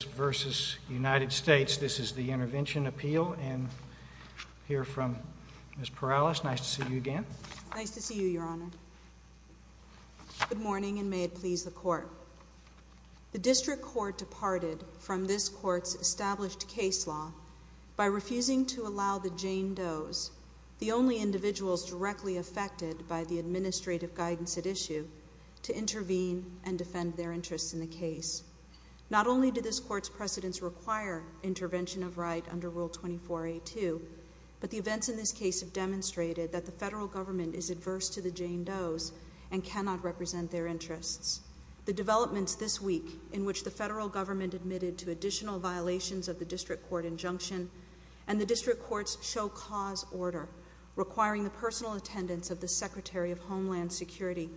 This is the Intervention Appeal, and I hear from Ms. Perales. Nice to see you again. Nice to see you, Your Honor. Good morning, and may it please the Court. The District Court departed from this Court's established case law by refusing to allow the Jane Does, the only individuals directly affected by the administrative guidance at issue, to intervene and defend their interests in the case. Not only did this Court's precedents require intervention of right under Rule 24a2, but the events in this case have demonstrated that the federal government is adverse to the Jane Does and cannot represent their interests. The developments this week, in which the federal government admitted to additional violations of the District Court injunction and the District Court's show cause order, requiring the personal attendance of the Secretary of Homeland Security,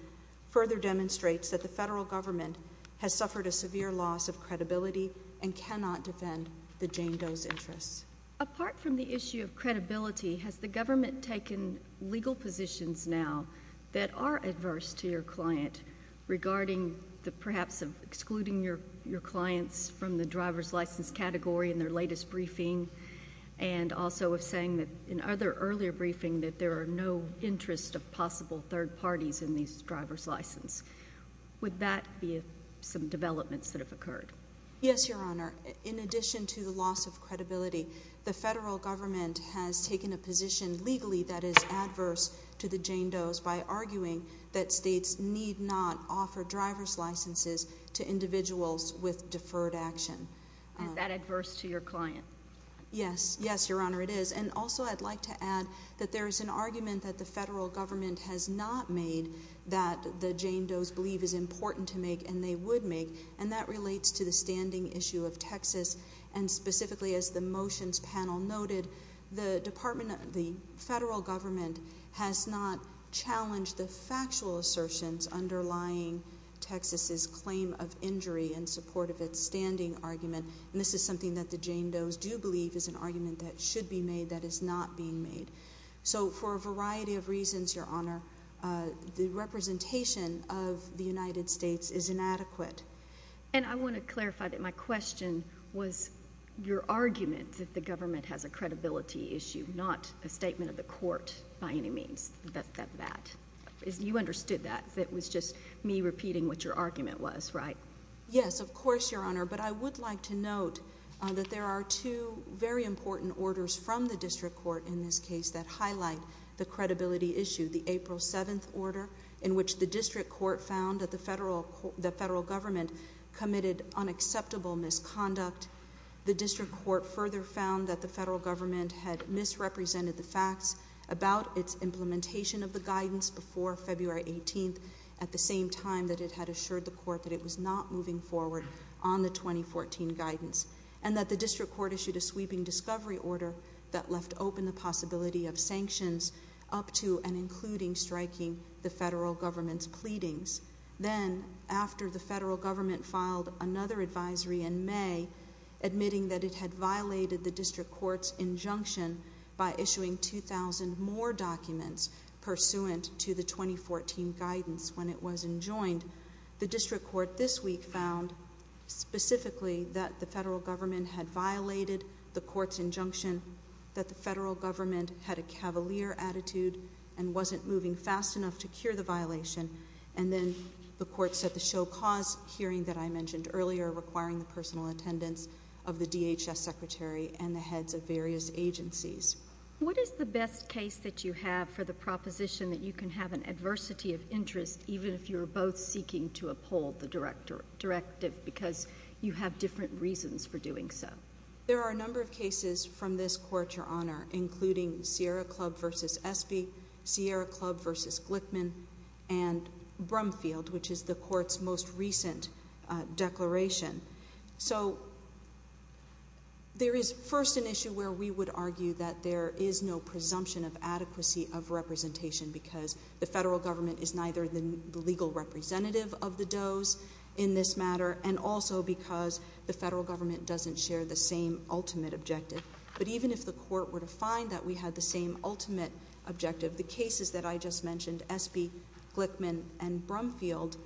further demonstrates that the federal government has suffered a severe loss of credibility and cannot defend the Jane Does' interests. Apart from the issue of credibility, has the government taken legal positions now that are adverse to your client regarding perhaps excluding your clients from the driver's license category in their latest briefing, and also saying in other earlier briefings that there are no interests of possible third parties in these driver's licenses? Would that be some developments that have occurred? Yes, Your Honor. In addition to the loss of credibility, the federal government has taken a position legally that is adverse to the Jane Does by arguing that states need not offer driver's licenses to individuals with deferred action. Is that adverse to your client? Yes. Yes, Your Honor, it is. And also I'd like to add that there is an argument that the federal government has not made that the Jane Does believe is important to make and they would make, and that relates to the standing issue of Texas. And specifically, as the motions panel noted, the federal government has not challenged the factual assertions underlying Texas's claim of injury in support of its standing argument. And this is something that the Jane Does do believe is an argument that should be made that is not being made. So for a variety of reasons, Your Honor, the representation of the United States is inadequate. And I want to clarify that my question was your argument that the government has a credibility issue, not a statement of the court by any means. You understood that. It was just me repeating what your argument was, right? Yes, of course, Your Honor. But I would like to note that there are two very important orders from the district court in this case that highlight the credibility issue, the April 7th order in which the district court found that the federal government committed unacceptable misconduct. The district court further found that the federal government had misrepresented the facts about its implementation of the guidance before February 18th at the same time that it had assured the court that it was not moving forward on the 2014 guidance and that the district court issued a sweeping discovery order that left open the possibility of sanctions up to and including striking the federal government's pleadings. Then, after the federal government filed another advisory in May, admitting that it had violated the district court's injunction by issuing 2,000 more documents pursuant to the 2014 guidance when it was enjoined, the district court this week found specifically that the federal government had violated the court's injunction, that the federal government had a cavalier attitude and wasn't moving fast enough to cure the violation, and then the court set the show-cause hearing that I mentioned earlier, requiring the personal attendance of the DHS secretary and the heads of various agencies. What is the best case that you have for the proposition that you can have an adversity of interest even if you're both seeking to uphold the directive because you have different reasons for doing so? There are a number of cases from this court, Your Honor, including Sierra Club v. Espy, Sierra Club v. Glickman, and Brumfield, which is the court's most recent declaration. So there is first an issue where we would argue that there is no presumption of adequacy of representation because the federal government is neither the legal representative of the does in this matter and also because the federal government doesn't share the same ultimate objective. But even if the court were to find that we had the same ultimate objective, the cases that I just mentioned, Espy, Glickman, and Brumfield,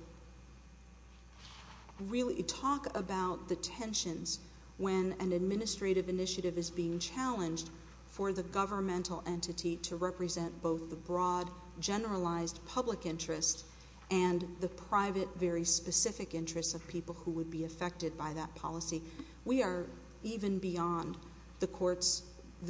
really talk about the tensions when an administrative initiative is being challenged for the governmental entity to represent both the broad, generalized public interest and the private, very specific interests of people who would be affected by that policy, we are even beyond the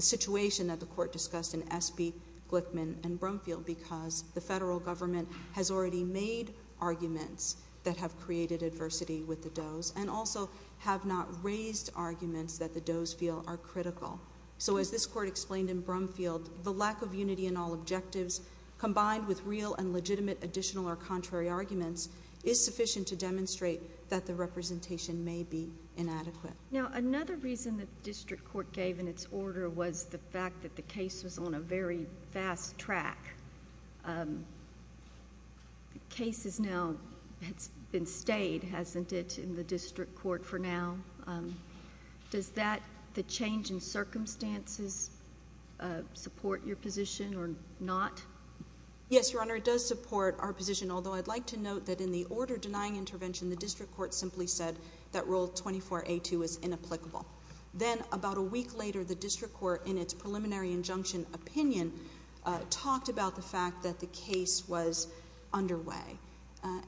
situation that the court discussed in Espy, Glickman, and Brumfield because the federal government has already made arguments that have created adversity with the does and also have not raised arguments that the does feel are critical. So as this court explained in Brumfield, the lack of unity in all objectives combined with real and legitimate additional or contrary arguments is sufficient to demonstrate that the representation may be inadequate. Now, another reason that the district court gave in its order was the fact that the case was on a very fast track. The case has now been stayed, hasn't it, in the district court for now. Does the change in circumstances support your position or not? Yes, Your Honor, it does support our position, although I'd like to note that in the order denying intervention, the district court simply said that Rule 24A2 is inapplicable. Then about a week later, the district court, in its preliminary injunction opinion, talked about the fact that the case was underway.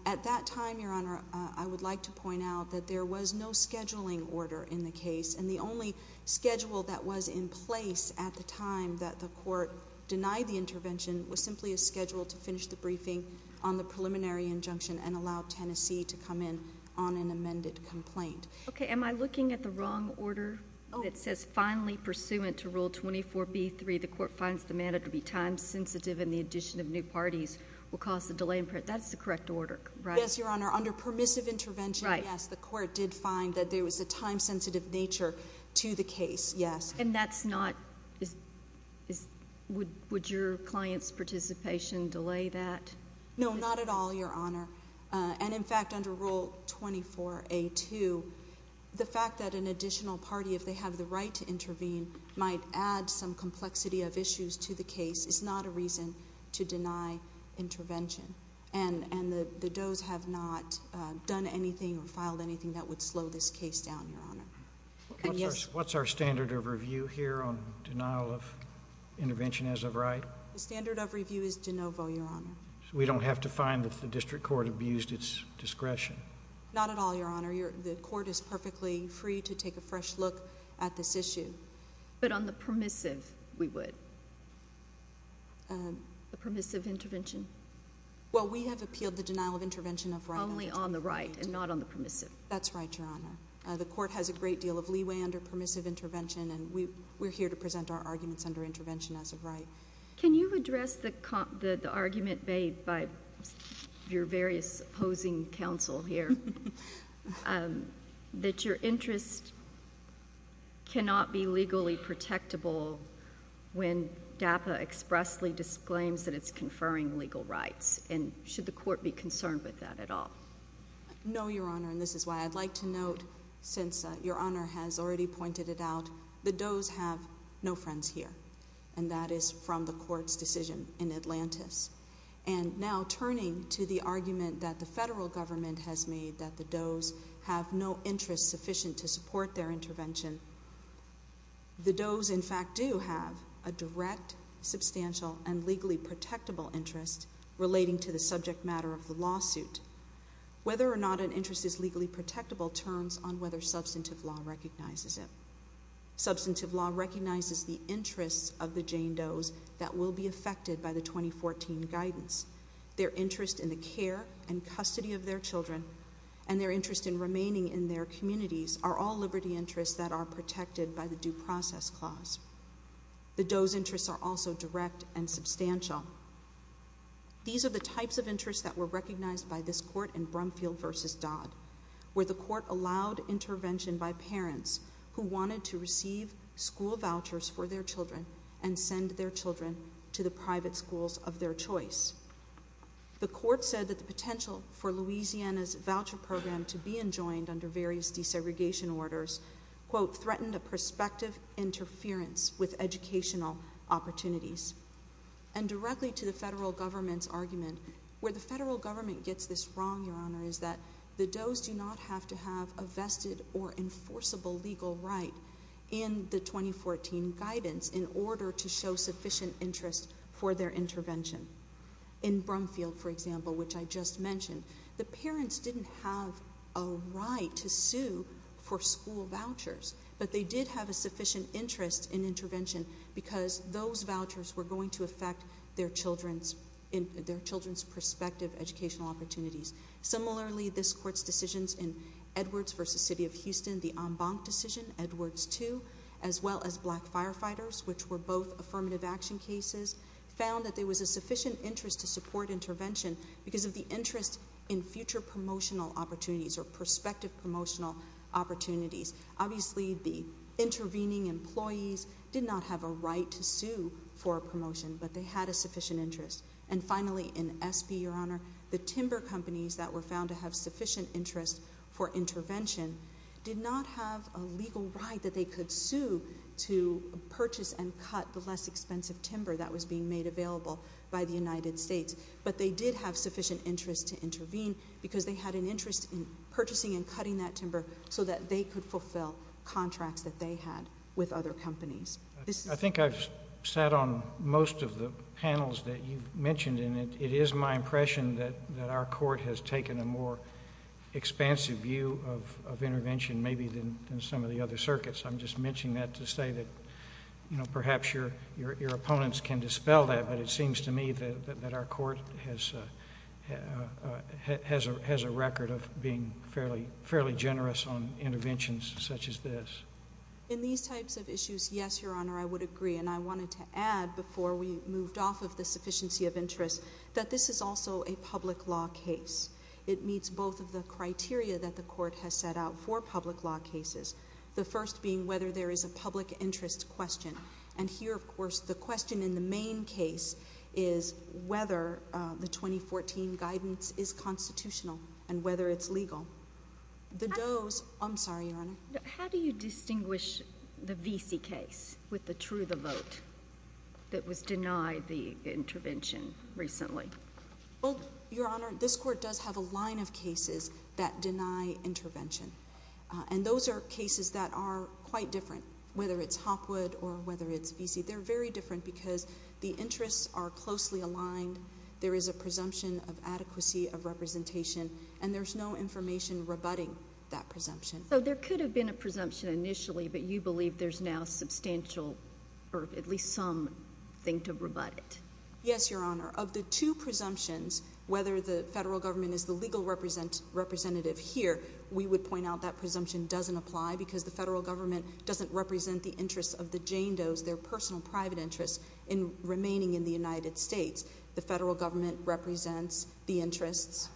At that time, Your Honor, I would like to point out that there was no scheduling order in the case, and the only schedule that was in place at the time that the court denied the intervention was simply a schedule to finish the briefing on the preliminary injunction and allow Tennessee to come in on an amended complaint. Okay. Am I looking at the wrong order that says, finally pursuant to Rule 24B3, the court finds the matter to be time-sensitive and the addition of new parties will cause the delay in presentation? That's the correct order, right? Yes, Your Honor. Under permissive intervention, yes, the court did find that there was a time-sensitive nature to the case, yes. And that's not – would your client's participation delay that? No, not at all, Your Honor. And, in fact, under Rule 24A2, the fact that an additional party, if they have the right to intervene, might add some complexity of issues to the case is not a reason to deny intervention. And the does have not done anything or filed anything that would slow this case down, Your Honor. What's our standard of review here on denial of intervention as of right? The standard of review is de novo, Your Honor. So we don't have to find that the district court abused its discretion? Not at all, Your Honor. The court is perfectly free to take a fresh look at this issue. But on the permissive, we would? The permissive intervention? Well, we have appealed the denial of intervention of right. Only on the right and not on the permissive? That's right, Your Honor. The court has a great deal of leeway under permissive intervention, and we're here to present our arguments under intervention as of right. Can you address the argument made by your various opposing counsel here that your interest cannot be legally protectable when DAPA expressly disclaims that it's conferring legal rights? And should the court be concerned with that at all? No, Your Honor, and this is why. I'd like to note, since Your Honor has already pointed it out, the Doe's have no friends here, and that is from the court's decision in Atlantis. And now turning to the argument that the federal government has made that the Doe's have no interest sufficient to support their intervention, the Doe's, in fact, do have a direct, substantial, Whether or not an interest is legally protectable turns on whether substantive law recognizes it. Substantive law recognizes the interests of the Jane Doe's that will be affected by the 2014 guidance. Their interest in the care and custody of their children and their interest in remaining in their communities are all liberty interests that are protected by the Due Process Clause. The Doe's interests are also direct and substantial. These are the types of interests that were recognized by this court in Brumfield v. Dodd, where the court allowed intervention by parents who wanted to receive school vouchers for their children and send their children to the private schools of their choice. The court said that the potential for Louisiana's voucher program to be enjoined under various desegregation orders threatened a prospective interference with educational opportunities. And directly to the federal government's argument, where the federal government gets this wrong, Your Honor, is that the Doe's do not have to have a vested or enforceable legal right in the 2014 guidance in order to show sufficient interest for their intervention. In Brumfield, for example, which I just mentioned, the parents didn't have a right to sue for school vouchers, but they did have a sufficient interest in intervention because those vouchers were going to affect their children's prospective educational opportunities. Similarly, this court's decisions in Edwards v. City of Houston, the en banc decision, Edwards 2, as well as Black Firefighters, which were both affirmative action cases, found that there was a sufficient interest to support intervention because of the interest in future promotional opportunities or prospective promotional opportunities. Obviously, the intervening employees did not have a right to sue for a promotion, but they had a sufficient interest. And finally, in Espy, Your Honor, the timber companies that were found to have sufficient interest for intervention did not have a legal right that they could sue to purchase and cut the less expensive timber that was being made available by the United States, but they did have sufficient interest to intervene because they had an interest in purchasing and cutting that timber so that they could fulfill contracts that they had with other companies. I think I've sat on most of the panels that you've mentioned, and it is my impression that our court has taken a more expansive view of intervention maybe than some of the other circuits. I'm just mentioning that to say that perhaps your opponents can dispel that, but it seems to me that our court has a record of being fairly generous on interventions such as this. In these types of issues, yes, Your Honor, I would agree, and I wanted to add before we moved off of the sufficiency of interest that this is also a public law case. It meets both of the criteria that the court has set out for public law cases, the first being whether there is a public interest question. And here, of course, the question in the main case is whether the 2014 guidance is constitutional and whether it's legal. I'm sorry, Your Honor. How do you distinguish the Vesey case with the True the Vote that was denied the intervention recently? Your Honor, this court does have a line of cases that deny intervention, and those are cases that are quite different, whether it's Hopwood or whether it's Vesey. They're very different because the interests are closely aligned. There is a presumption of adequacy of representation, and there's no information rebutting that presumption. So there could have been a presumption initially, but you believe there's now substantial or at least some thing to rebut it. Yes, Your Honor. Of the two presumptions, whether the federal government is the legal representative here, we would point out that presumption doesn't apply because the federal government doesn't represent the interests of the Jane Does, their personal private interests, in remaining in the United States. The federal government represents the interests.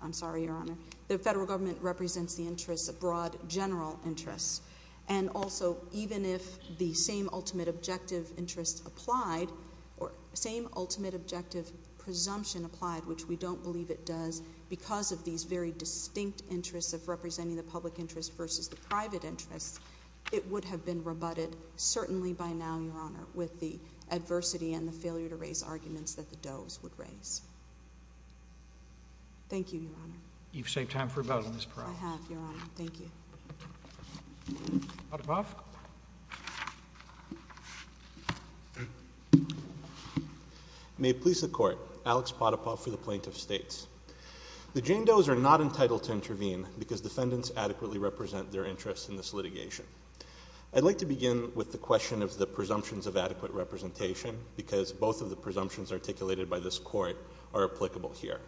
I'm sorry, Your Honor. The federal government represents the interests of broad general interests. And also, even if the same ultimate objective interest applied or same ultimate objective presumption applied, which we don't believe it does, because of these very distinct interests of representing the public interest versus the private interests, it would have been rebutted certainly by now, Your Honor, with the adversity and the failure to raise arguments that the Does would raise. Thank you, Your Honor. You've saved time for rebuttal, Ms. Peralta. I have, Your Honor. Thank you. Potapoff. May it please the Court, Alex Potapoff for the Plaintiff States. The Jane Does are not entitled to intervene because defendants adequately represent their interests in this litigation. I'd like to begin with the question of the presumptions of adequate representation because both of the presumptions articulated by this Court are applicable here.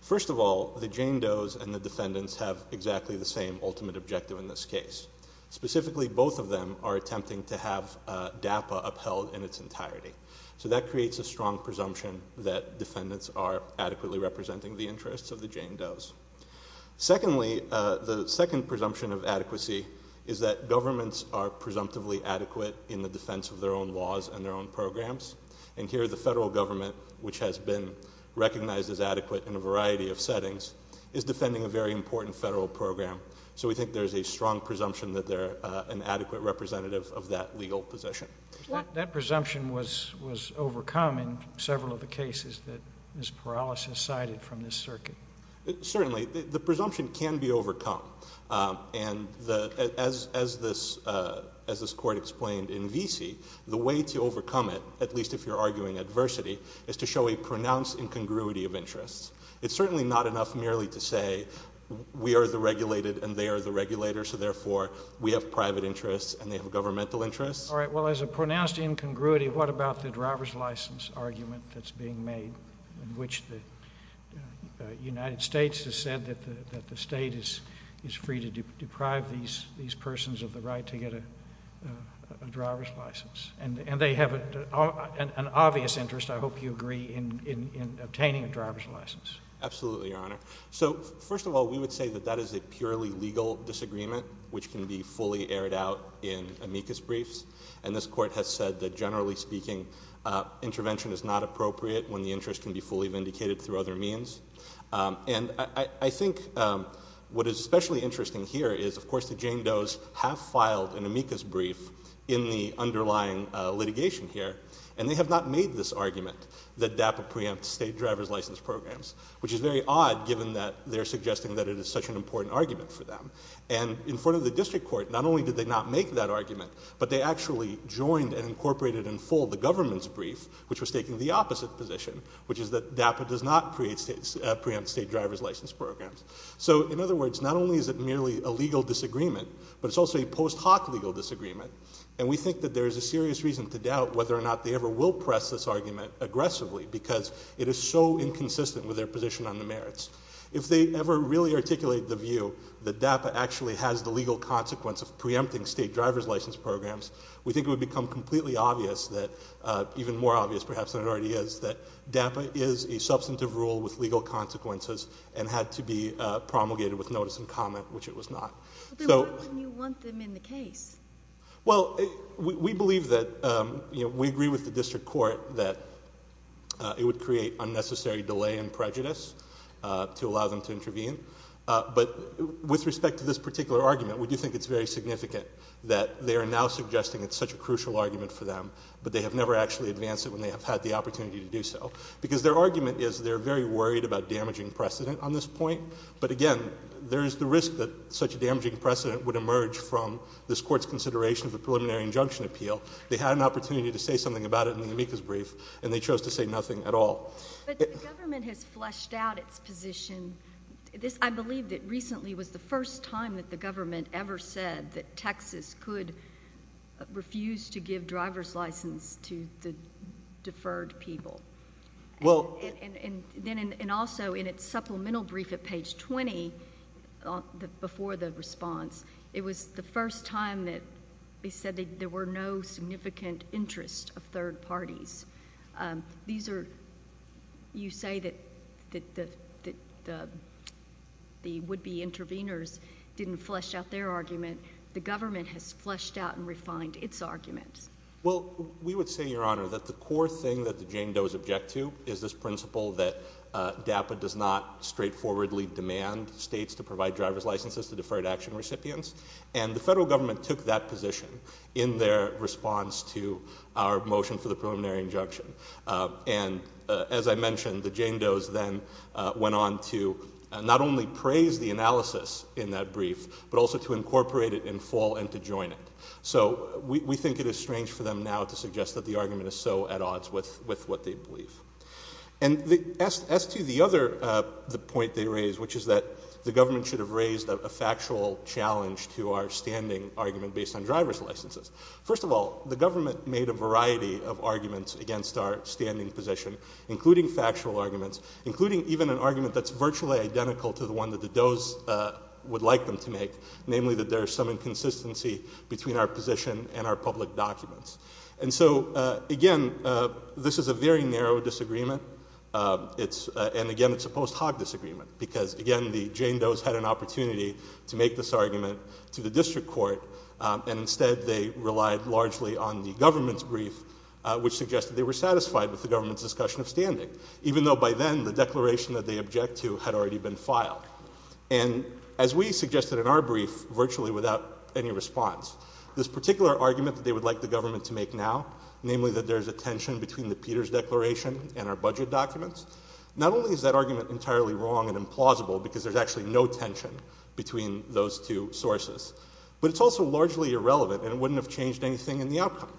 First of all, the Jane Does and the defendants have exactly the same ultimate objective in this case. Specifically, both of them are attempting to have DAPA upheld in its entirety. So that creates a strong presumption that defendants are adequately representing the interests of the Jane Does. Secondly, the second presumption of adequacy is that governments are presumptively adequate in the defense of their own laws and their own programs, and here the federal government, which has been recognized as adequate in a variety of settings, is defending a very important federal program. So we think there's a strong presumption that they're an adequate representative of that legal position. That presumption was overcome in several of the cases that Ms. Peralta has cited from this circuit. Certainly. The presumption can be overcome. And as this Court explained in Vesey, the way to overcome it, at least if you're arguing adversity, is to show a pronounced incongruity of interests. It's certainly not enough merely to say we are the regulated and they are the regulators, so therefore we have private interests and they have governmental interests. All right. Well, as a pronounced incongruity, what about the driver's license argument that's being made in which the United States has said that the state is free to deprive these persons of the right to get a driver's license? And they have an obvious interest, I hope you agree, in obtaining a driver's license. Absolutely, Your Honor. So first of all, we would say that that is a purely legal disagreement, which can be fully aired out in amicus briefs, and this Court has said that generally speaking intervention is not appropriate when the interest can be fully vindicated through other means. And I think what is especially interesting here is, of course, the Jane Does have filed an amicus brief in the underlying litigation here, and they have not made this argument that DAPA preempts state driver's license programs, which is very odd given that they're suggesting that it is such an important argument for them. And in front of the district court, not only did they not make that argument, but they actually joined and incorporated in full the government's brief, which was taking the opposite position, which is that DAPA does not preempt state driver's license programs. So in other words, not only is it merely a legal disagreement, but it's also a post hoc legal disagreement, and we think that there is a serious reason to doubt whether or not they ever will press this argument aggressively because it is so inconsistent with their position on the merits. If they ever really articulate the view that DAPA actually has the legal consequence of preempting state driver's license programs, we think it would become completely obvious that, even more obvious perhaps than it already is, that DAPA is a substantive rule with legal consequences and had to be promulgated with notice and comment, which it was not. Then why wouldn't you want them in the case? Well, we believe that we agree with the district court that it would create unnecessary delay and prejudice to allow them to intervene. But with respect to this particular argument, we do think it's very significant that they are now suggesting it's such a crucial argument for them, but they have never actually advanced it when they have had the opportunity to do so, because their argument is they're very worried about damaging precedent on this point. But again, there is the risk that such a damaging precedent would emerge from this court's consideration of a preliminary injunction appeal. They had an opportunity to say something about it in the amicus brief, and they chose to say nothing at all. But the government has fleshed out its position. I believe that recently was the first time that the government ever said that Texas could refuse to give driver's license to the deferred people. And also in its supplemental brief at page 20, before the response, it was the first time that they said there were no significant interests of third parties. You say that the would-be intervenors didn't flesh out their argument. The government has fleshed out and refined its argument. Well, we would say, Your Honor, that the core thing that the Jane Doe's object to is this principle that DAPA does not straightforwardly demand states to provide driver's licenses to deferred action recipients. And the federal government took that position in their response to our motion for the preliminary injunction. And as I mentioned, the Jane Doe's then went on to not only praise the analysis in that brief, but also to incorporate it in full and to join it. So we think it is strange for them now to suggest that the argument is so at odds with what they believe. And as to the other point they raised, which is that the government should have raised a factual challenge to our standing argument based on driver's licenses. First of all, the government made a variety of arguments against our standing position, including factual arguments, including even an argument that's virtually identical to the one that the Doe's would like them to make, namely that there is some inconsistency between our position and our public documents. And so, again, this is a very narrow disagreement. And, again, it's a post-Hogg disagreement because, again, the Jane Doe's had an opportunity to make this argument to the district court, and instead they relied largely on the government's brief, which suggested they were satisfied with the government's discussion of standing, even though by then the declaration that they object to had already been filed. And as we suggested in our brief, virtually without any response, this particular argument that they would like the government to make now, namely that there is a tension between the Peters Declaration and our budget documents, not only is that argument entirely wrong and implausible because there's actually no tension between those two sources, but it's also largely irrelevant and it wouldn't have changed anything in the outcome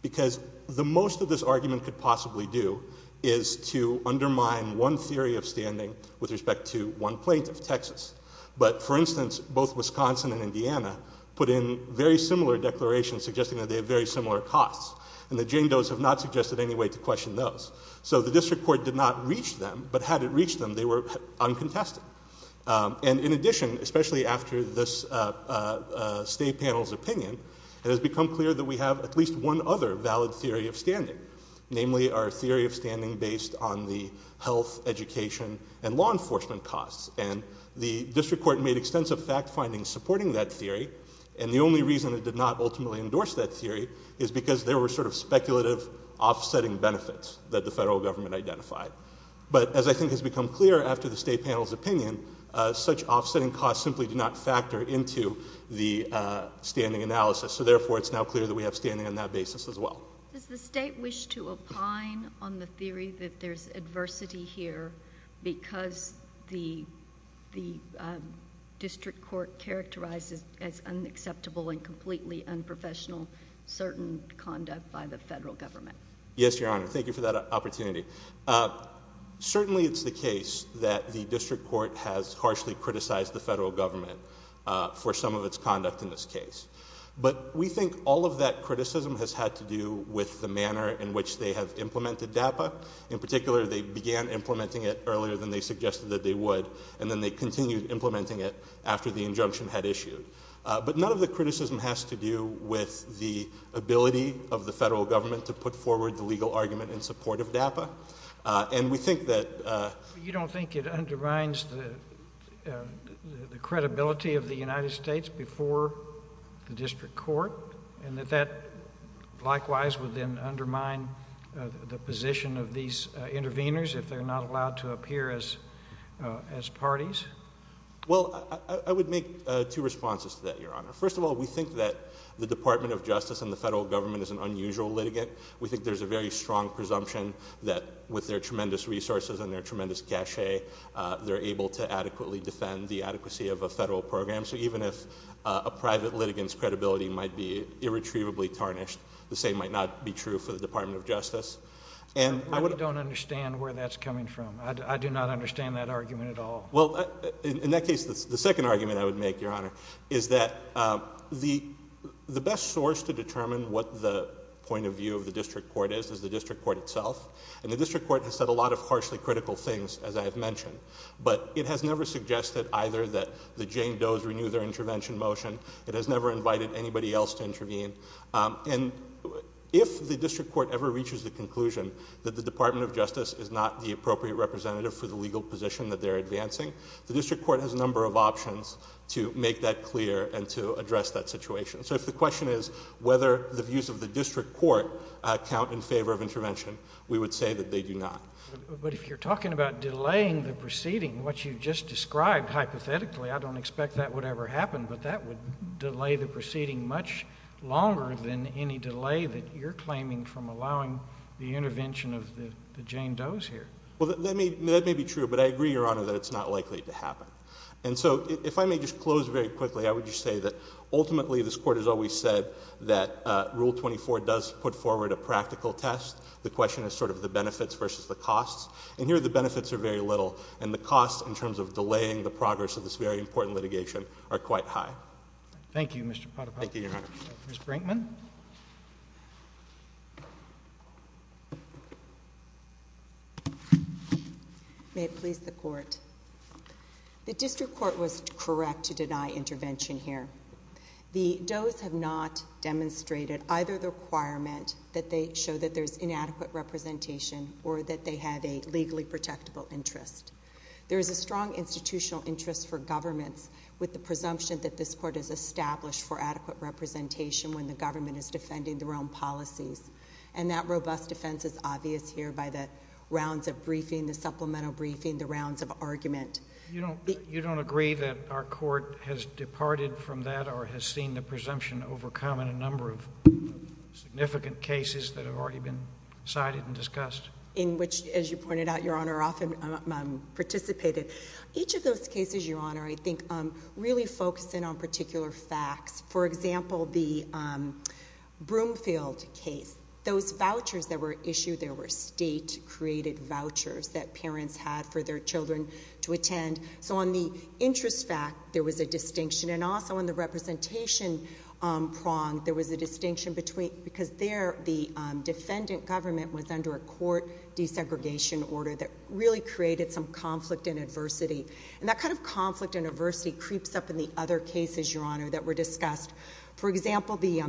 because the most that this argument could possibly do is to undermine one theory of standing with respect to one plaintiff, Texas. But, for instance, both Wisconsin and Indiana put in very similar declarations suggesting that they have very similar costs, and the Jane Doe's have not suggested any way to question those. So the district court did not reach them, but had it reached them, they were uncontested. And in addition, especially after this state panel's opinion, it has become clear that we have at least one other valid theory of standing, namely our theory of standing based on the health, education, and law enforcement costs. And the district court made extensive fact findings supporting that theory, and the only reason it did not ultimately endorse that theory is because there were sort of speculative offsetting benefits that the federal government identified. But as I think has become clear after the state panel's opinion, such offsetting costs simply do not factor into the standing analysis, so therefore it's now clear that we have standing on that basis as well. Does the state wish to opine on the theory that there's adversity here because the district court characterizes as unacceptable and completely unprofessional certain conduct by the federal government? Yes, Your Honor. Thank you for that opportunity. Certainly it's the case that the district court has harshly criticized the federal government for some of its conduct in this case. But we think all of that criticism has had to do with the manner in which they have implemented DAPA. In particular, they began implementing it earlier than they suggested that they would, and then they continued implementing it after the injunction had issued. But none of the criticism has to do with the ability of the federal government to put forward the legal argument in support of DAPA, and we think that— You don't think it undermines the credibility of the United States before the district court and that that likewise would then undermine the position of these interveners if they're not allowed to appear as parties? Well, I would make two responses to that, Your Honor. First of all, we think that the Department of Justice and the federal government is an unusual litigant. We think there's a very strong presumption that with their tremendous resources and their tremendous cachet, they're able to adequately defend the adequacy of a federal program. So even if a private litigant's credibility might be irretrievably tarnished, the same might not be true for the Department of Justice. I don't understand where that's coming from. I do not understand that argument at all. Well, in that case, the second argument I would make, Your Honor, is that the best source to determine what the point of view of the district court is is the district court itself. And the district court has said a lot of harshly critical things, as I have mentioned. But it has never suggested either that the Jane Does renew their intervention motion. It has never invited anybody else to intervene. And if the district court ever reaches the conclusion that the Department of Justice is not the appropriate representative for the legal position that they're advancing, the district court has a number of options to make that clear and to address that situation. So if the question is whether the views of the district court count in favor of intervention, we would say that they do not. But if you're talking about delaying the proceeding, what you just described, hypothetically, I don't expect that would ever happen, but that would delay the proceeding much longer than any delay that you're claiming from allowing the intervention of the Jane Does here. Well, that may be true, but I agree, Your Honor, that it's not likely to happen. And so if I may just close very quickly, I would just say that ultimately this Court has always said that Rule 24 does put forward a practical test. The question is sort of the benefits versus the costs. And here the benefits are very little, and the costs in terms of delaying the progress of this very important litigation are quite high. Thank you, Mr. Potapoff. Thank you, Your Honor. Ms. Brinkman? May it please the Court. The district court was correct to deny intervention here. The Does have not demonstrated either the requirement that they show that there's inadequate representation or that they have a legally protectable interest. There is a strong institutional interest for governments with the presumption that this Court has established for adequate representation when the government is defending their own policies. And that robust defense is obvious here by the rounds of briefing, the supplemental briefing, the rounds of argument. You don't agree that our Court has departed from that or has seen the presumption overcome in a number of significant cases that have already been cited and discussed? In which, as you pointed out, Your Honor, often participated. Each of those cases, Your Honor, I think really focus in on particular facts. For example, the Broomfield case, those vouchers that were issued, they were state-created vouchers that parents had for their children to attend. So on the interest fact, there was a distinction. And also on the representation prong, there was a distinction because there the defendant government was under a court desegregation order that really created some conflict and adversity. And that kind of conflict and adversity creeps up in the other cases, Your Honor, that were discussed. For example, the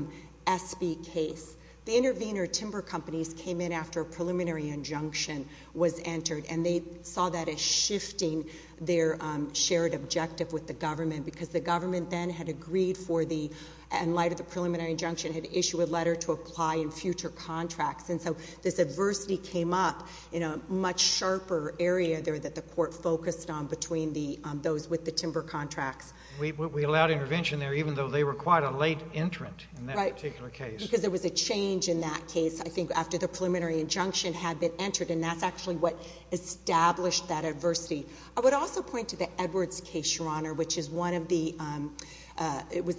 Espy case. The intervener timber companies came in after a preliminary injunction was entered and they saw that as shifting their shared objective with the government because the government then had agreed for the, in light of the preliminary injunction, had issued a letter to apply in future contracts. And so this adversity came up in a much sharper area there that the court focused on between those with the timber contracts. We allowed intervention there even though they were quite a late entrant in that particular case. Right, because there was a change in that case, I think, after the preliminary injunction had been entered. And that's actually what established that adversity. I would also point to the Edwards case, Your Honor, which was the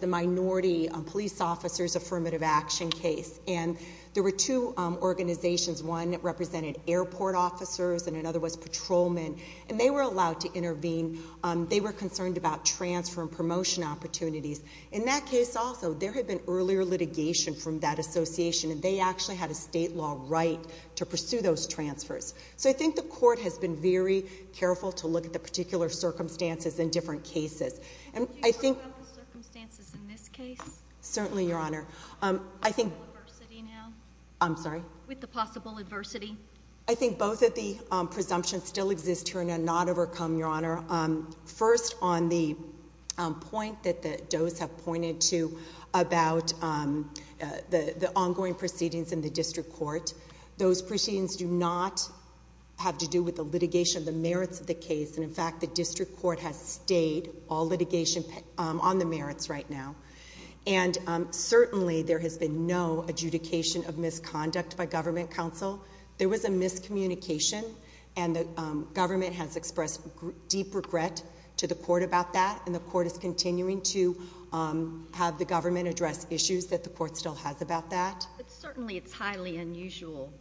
minority police officer's affirmative action case. And there were two organizations. One represented airport officers and another was patrolmen. And they were allowed to intervene. They were concerned about transfer and promotion opportunities. In that case, also, there had been earlier litigation from that association and they actually had a state law right to pursue those transfers. So I think the court has been very careful to look at the particular circumstances in different cases. And I think the circumstances in this case? Certainly, Your Honor. With the possible adversity? I think both of the presumptions still exist here and are not overcome, Your Honor. First, on the point that the does have pointed to about the ongoing proceedings in the district court, those proceedings do not have to do with the litigation of the merits of the case. And, in fact, the district court has stayed all litigation on the merits right now. And, certainly, there has been no adjudication of misconduct by government counsel. There was a miscommunication. And the government has expressed deep regret to the court about that. And the court is continuing to have the government address issues that the court still has about that. But, certainly, it's highly unusual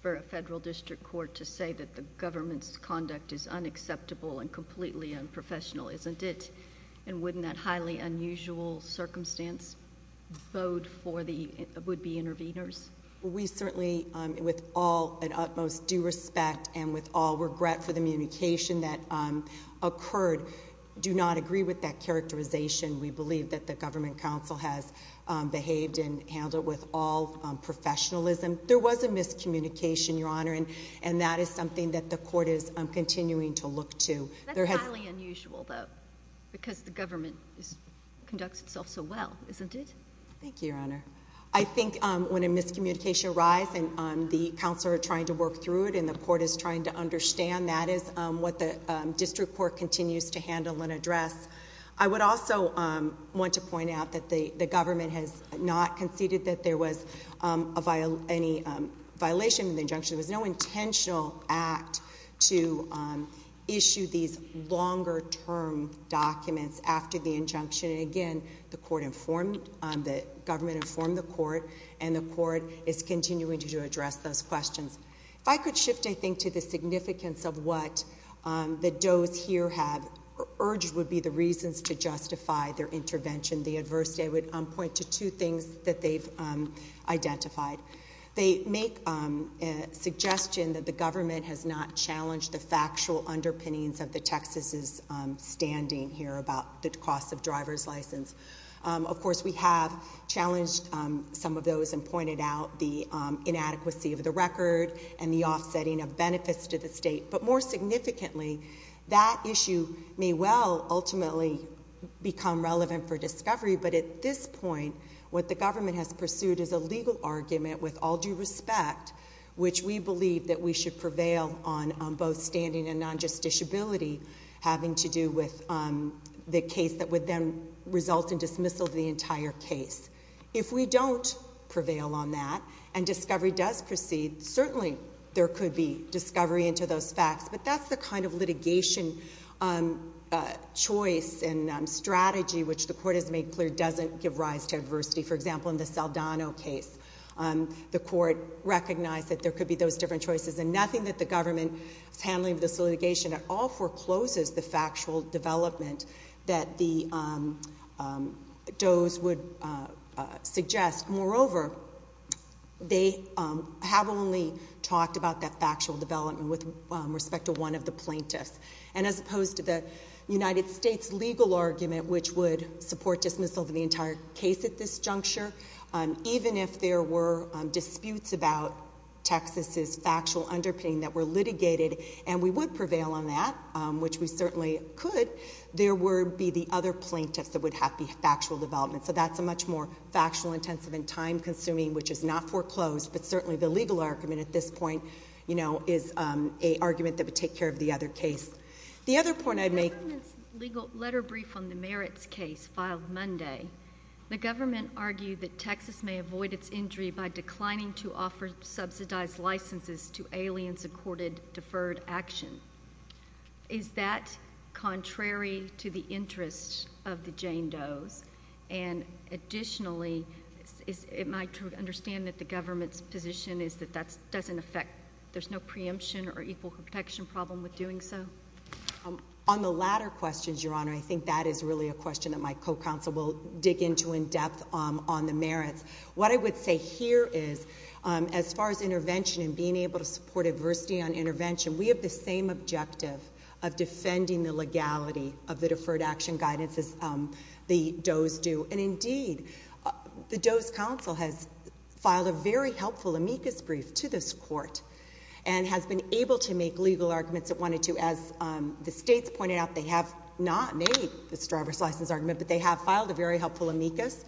for a federal district court to say that the government's conduct is unacceptable and completely unprofessional, isn't it? And wouldn't that highly unusual circumstance bode for the would-be interveners? We certainly, with all and utmost due respect and with all regret for the communication that occurred, do not agree with that characterization. We believe that the government counsel has behaved and handled it with all professionalism. There was a miscommunication, Your Honor, and that is something that the court is continuing to look to. That's highly unusual, though, because the government conducts itself so well, isn't it? Thank you, Your Honor. I think when a miscommunication arrives and the counsel are trying to work through it and the court is trying to understand, that is what the district court continues to handle and address. I would also want to point out that the government has not conceded that there was any violation of the injunction. There was no intentional act to issue these longer-term documents after the injunction. Again, the government informed the court, and the court is continuing to address those questions. If I could shift, I think, to the significance of what the does here have urged would be the reasons to justify their intervention, the adversity, I would point to two things that they've identified. They make a suggestion that the government has not challenged the factual underpinnings of the Texas's standing here about the cost of driver's license. Of course, we have challenged some of those and pointed out the inadequacy of the record and the offsetting of benefits to the state, but more significantly, but at this point, what the government has pursued is a legal argument with all due respect, which we believe that we should prevail on both standing and non-justiciability having to do with the case that would then result in dismissal of the entire case. If we don't prevail on that and discovery does proceed, certainly there could be discovery into those facts, but that's the kind of litigation choice and strategy which the court has made clear doesn't give rise to adversity. For example, in the Saldano case, the court recognized that there could be those different choices and nothing that the government is handling in this litigation at all forecloses the factual development that the does would suggest. Moreover, they have only talked about that factual development with respect to one of the plaintiffs, and as opposed to the United States legal argument, which would support dismissal of the entire case at this juncture, even if there were disputes about Texas's factual underpinning that were litigated, and we would prevail on that, which we certainly could, there would be the other plaintiffs that would have the factual development. So that's a much more factual, intensive, and time-consuming, which is not foreclosed, but certainly the legal argument at this point is an argument that would take care of the other case. The other point I'd make— The government's letter brief on the merits case filed Monday. The government argued that Texas may avoid its injury by declining to offer subsidized licenses to aliens accorded deferred action. Is that contrary to the interests of the Jane Does? And additionally, am I to understand that the government's position is that that doesn't affect— there's no preemption or equal protection problem with doing so? On the latter questions, Your Honor, I think that is really a question that my co-counsel will dig into in depth on the merits. What I would say here is, as far as intervention and being able to support adversity on intervention, we have the same objective of defending the legality of the deferred action guidance as the Does do. And indeed, the Does counsel has filed a very helpful amicus brief to this court and has been able to make legal arguments it wanted to. As the states pointed out, they have not made this driver's license argument, but they have filed a very helpful amicus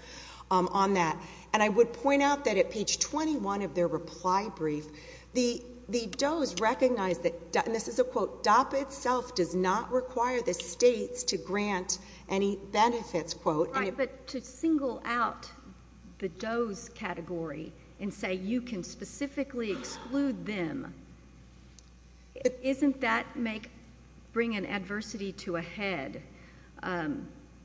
on that. And I would point out that at page 21 of their reply brief, the Does recognize that—and this is a quote— DAPA itself does not require the states to grant any benefits, quote. Right, but to single out the Does category and say you can specifically exclude them, isn't that bring an adversity to a head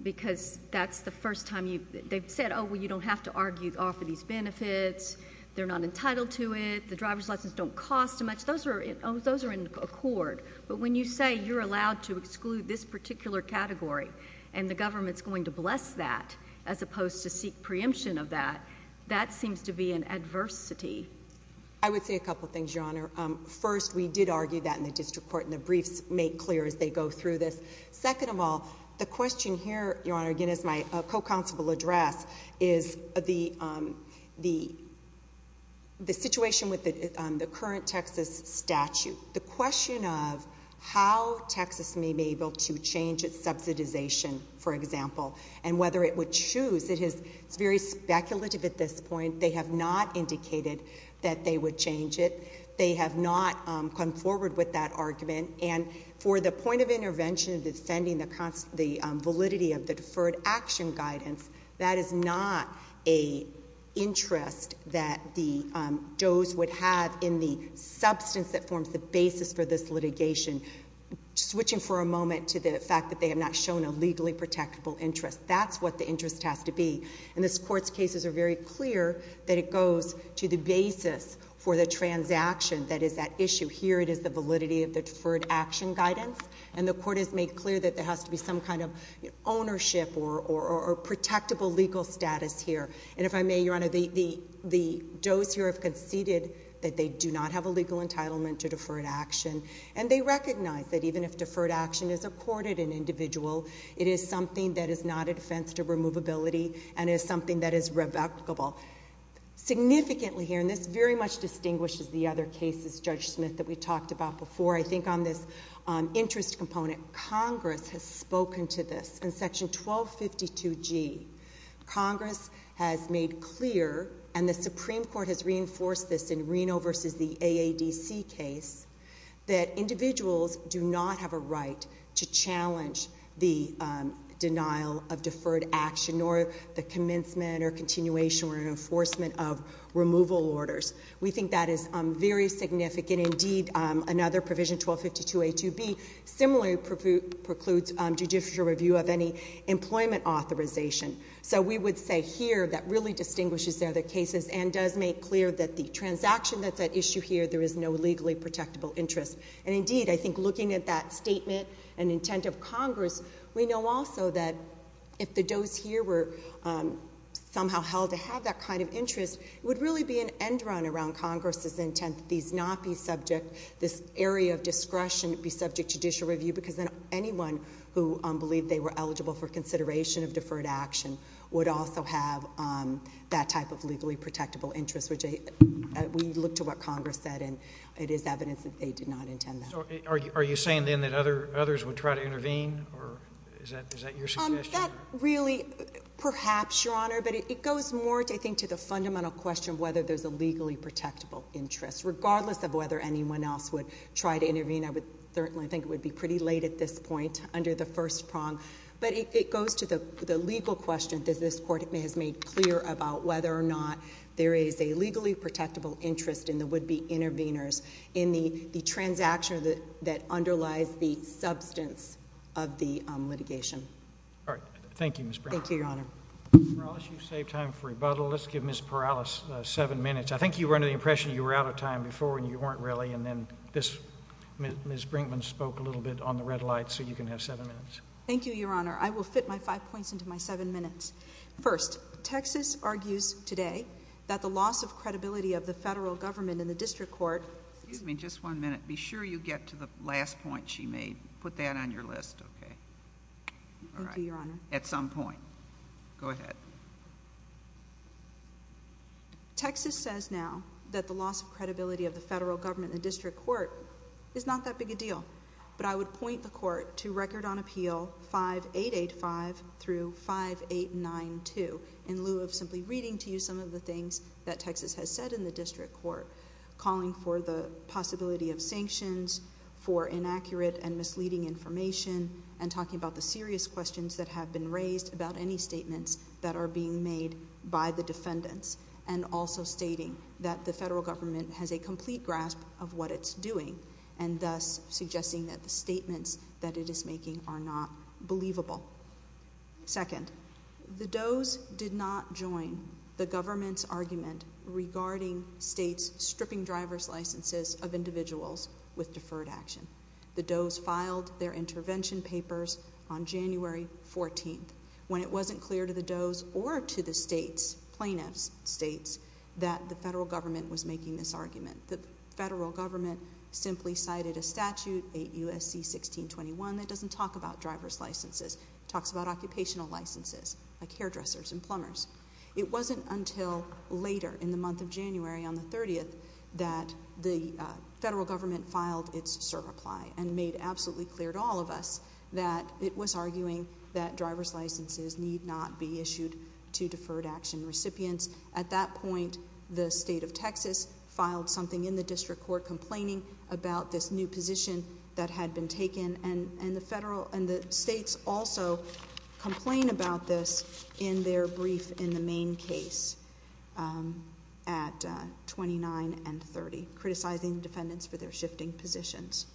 because that's the first time you— you offer these benefits, they're not entitled to it, the driver's license don't cost too much. Those are in accord. But when you say you're allowed to exclude this particular category and the government's going to bless that as opposed to seek preemption of that, that seems to be an adversity. I would say a couple things, Your Honor. First, we did argue that in the district court, and the briefs make clear as they go through this. Second of all, the question here, Your Honor, again as my co-counsel will address, is the situation with the current Texas statute. The question of how Texas may be able to change its subsidization, for example, and whether it would choose, it is very speculative at this point. They have not indicated that they would change it. They have not come forward with that argument. And for the point of intervention, defending the validity of the deferred action guidance, that is not an interest that the does would have in the substance that forms the basis for this litigation. Switching for a moment to the fact that they have not shown a legally protectable interest, that's what the interest has to be. And this court's cases are very clear that it goes to the basis for the transaction that is at issue. Here it is the validity of the deferred action guidance. And the court has made clear that there has to be some kind of ownership or protectable legal status here. And if I may, Your Honor, the does here have conceded that they do not have a legal entitlement to deferred action. And they recognize that even if deferred action is accorded an individual, it is something that is not a defense to removability and is something that is revocable. Significantly here, and this very much distinguishes the other cases, Judge Smith, that we talked about before, I think on this interest component, Congress has spoken to this. In Section 1252G, Congress has made clear, and the Supreme Court has reinforced this in Reno v. the AADC case, that individuals do not have a right to challenge the denial of deferred action nor the commencement or continuation or enforcement of removal orders. We think that is very significant. Indeed, another provision, 1252A2B, similarly precludes judicial review of any employment authorization. So we would say here that really distinguishes the other cases and does make clear that the transaction that's at issue here, there is no legally protectable interest. And indeed, I think looking at that statement and intent of Congress, we know also that if the does here were somehow held to have that kind of interest, it would really be an end run around Congress's intent that these not be subject, this area of discretion be subject to judicial review, because then anyone who believed they were eligible for consideration of deferred action would also have that type of legally protectable interest, which we look to what Congress said, and it is evidence that they did not intend that. So are you saying then that others would try to intervene, or is that your suggestion? That really, perhaps, Your Honor, but it goes more, I think, to the fundamental question of whether there's a legally protectable interest. Regardless of whether anyone else would try to intervene, I would certainly think it would be pretty late at this point under the first prong, but it goes to the legal question that this Court has made clear about whether or not there is a legally protectable interest in the would-be interveners in the transaction that underlies the substance of the litigation. All right. Thank you, Ms. Brinkman. Thank you, Your Honor. Ms. Perales, you saved time for rebuttal. Let's give Ms. Perales seven minutes. I think you were under the impression you were out of time before, and you weren't really, and then Ms. Brinkman spoke a little bit on the red light, so you can have seven minutes. Thank you, Your Honor. I will fit my five points into my seven minutes. First, Texas argues today that the loss of credibility of the federal government in the district court... Excuse me. Just one minute. Be sure you get to the last point she made. Put that on your list. Okay. Thank you, Your Honor. All right. At some point. Go ahead. Texas says now that the loss of credibility of the federal government in the district court is not that big a deal, but I would point the Court to Record on Appeal 5885 through 5892 in lieu of simply reading to you some of the things that Texas has said in the district court, calling for the possibility of sanctions, for inaccurate and misleading information, and talking about the serious questions that have been raised about any statements that are being made by the defendants, and also stating that the federal government has a complete grasp of what it's doing, and thus suggesting that the statements that it is making are not believable. Second, the Doe's did not join the government's argument regarding states stripping driver's licenses of individuals with deferred action. The Doe's filed their intervention papers on January 14th when it wasn't clear to the Doe's or to the plaintiff's states that the federal government was making this argument. The federal government simply cited a statute, 8 U.S.C. 1621, that doesn't talk about driver's licenses. It talks about occupational licenses, like hairdressers and plumbers. It wasn't until later, in the month of January, on the 30th, that the federal government filed its cert. reply and made absolutely clear to all of us that it was arguing that driver's licenses need not be issued to deferred action recipients. At that point, the state of Texas filed something in the district court complaining about this new position that had been taken, and the federal and the states also complain about this in their brief in the main case at 29 and 30, criticizing defendants for their shifting positions.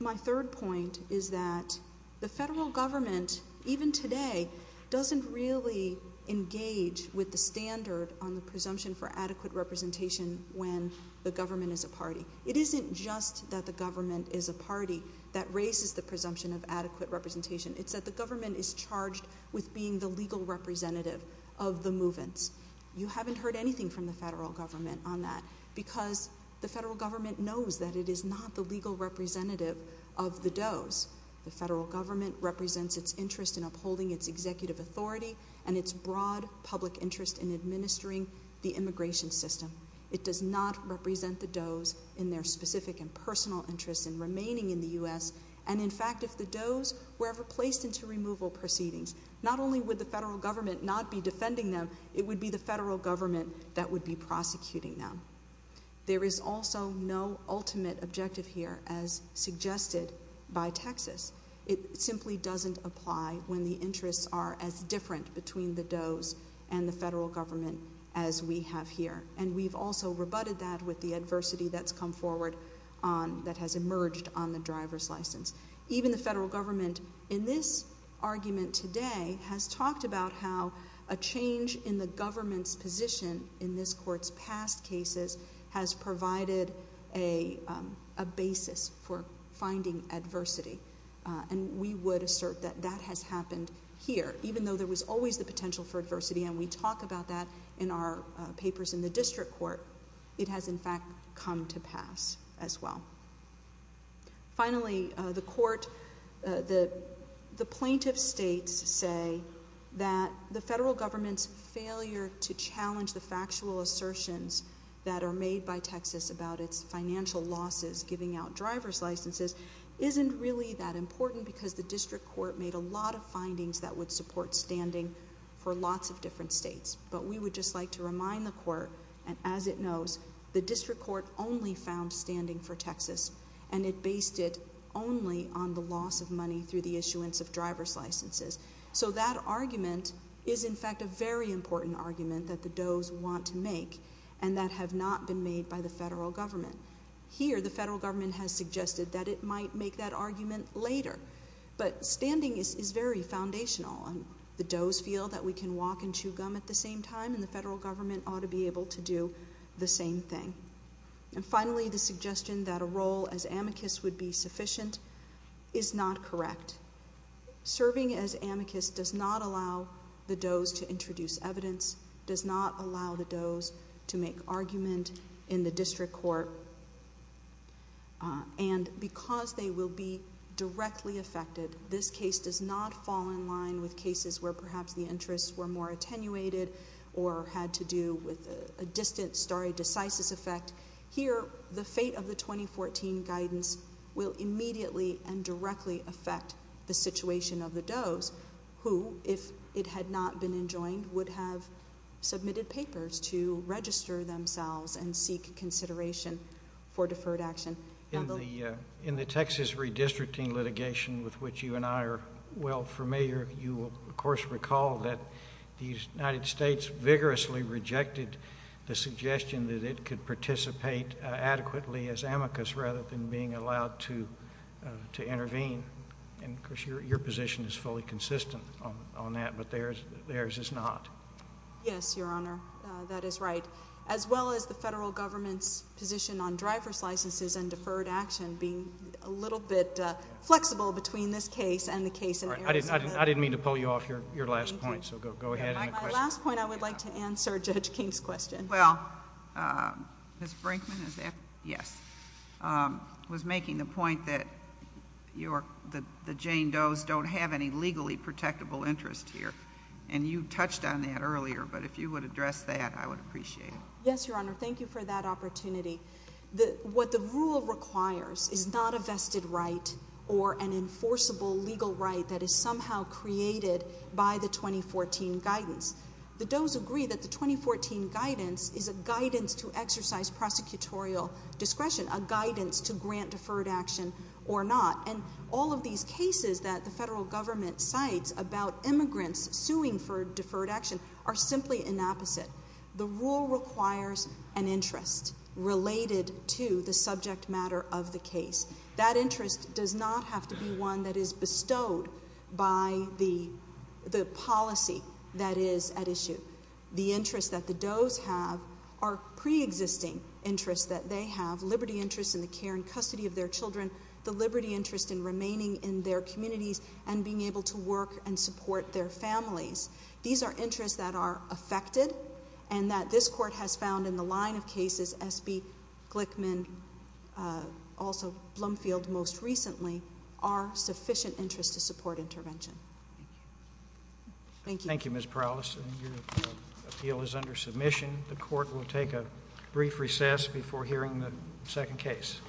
My third point is that the federal government, even today, doesn't really engage with the standard on the presumption for adequate representation when the government is a party. It isn't just that the government is a party that raises the presumption of adequate representation. It's that the government is charged with being the legal representative of the movements. You haven't heard anything from the federal government on that because the federal government knows that it is not the legal representative of the Doe's. The federal government represents its interest in upholding its executive authority and its broad public interest in administering the immigration system. It does not represent the Doe's in their specific and personal interest in remaining in the U.S., and, in fact, if the Doe's were ever placed into removal proceedings, not only would the federal government not be defending them, it would be the federal government that would be prosecuting them. There is also no ultimate objective here, as suggested by Texas. It simply doesn't apply when the interests are as different between the Doe's and the federal government as we have here, and we've also rebutted that with the adversity that's come forward that has emerged on the driver's license. Even the federal government, in this argument today, has talked about how a change in the government's position in this court's past cases has provided a basis for finding adversity, and we would assert that that has happened here. Even though there was always the potential for adversity, and we talk about that in our papers in the district court, it has, in fact, come to pass as well. Finally, the plaintiff states say that the federal government's failure to challenge the factual assertions that are made by Texas about its financial losses giving out driver's licenses isn't really that important because the district court made a lot of findings that would support standing for lots of different states. But we would just like to remind the court, and as it knows, the district court only found standing for Texas, and it based it only on the loss of money through the issuance of driver's licenses. So that argument is, in fact, a very important argument that the Doe's want to make, and that have not been made by the federal government. Here, the federal government has suggested that it might make that argument later, but standing is very foundational. The Doe's feel that we can walk and chew gum at the same time, and the federal government ought to be able to do the same thing. And finally, the suggestion that a role as amicus would be sufficient is not correct. Serving as amicus does not allow the Doe's to introduce evidence, does not allow the Doe's to make argument in the district court, and because they will be directly affected, this case does not fall in line with cases where perhaps the interests were more attenuated or had to do with a distant stare decisis effect. Here, the fate of the 2014 guidance will immediately and directly affect the situation of the Doe's, who, if it had not been enjoined, would have submitted papers to register themselves and seek consideration for deferred action. In the Texas redistricting litigation with which you and I are well familiar, you will, of course, recall that the United States vigorously rejected the suggestion that it could participate adequately as amicus rather than being allowed to intervene. And, of course, your position is fully consistent on that, but theirs is not. Yes, Your Honor, that is right, as well as the federal government's position on driver's licenses and deferred action being a little bit flexible between this case and the case in Arizona. I didn't mean to pull you off your last point, so go ahead. My last point, I would like to answer Judge King's question. Well, Ms. Brinkman was making the point that the Jane Doe's don't have any legally protectable interest here, and you touched on that earlier, but if you would address that, I would appreciate it. Yes, Your Honor, thank you for that opportunity. What the rule requires is not a vested right or an enforceable legal right that is somehow created by the 2014 guidance. The Doe's agree that the 2014 guidance is a guidance to exercise prosecutorial discretion, a guidance to grant deferred action or not, and all of these cases that the federal government cites about immigrants suing for deferred action are simply an opposite. The rule requires an interest related to the subject matter of the case. That interest does not have to be one that is bestowed by the policy that is at issue. The interests that the Doe's have are preexisting interests that they have, liberty interests in the care and custody of their children, the liberty interest in remaining in their communities and being able to work and support their families. These are interests that are affected and that this court has found in the line of cases SB Glickman, also Blumfield most recently, are sufficient interests to support intervention. Thank you. Thank you, Ms. Prowlis. Your appeal is under submission. The court will take a brief recess before hearing the second case.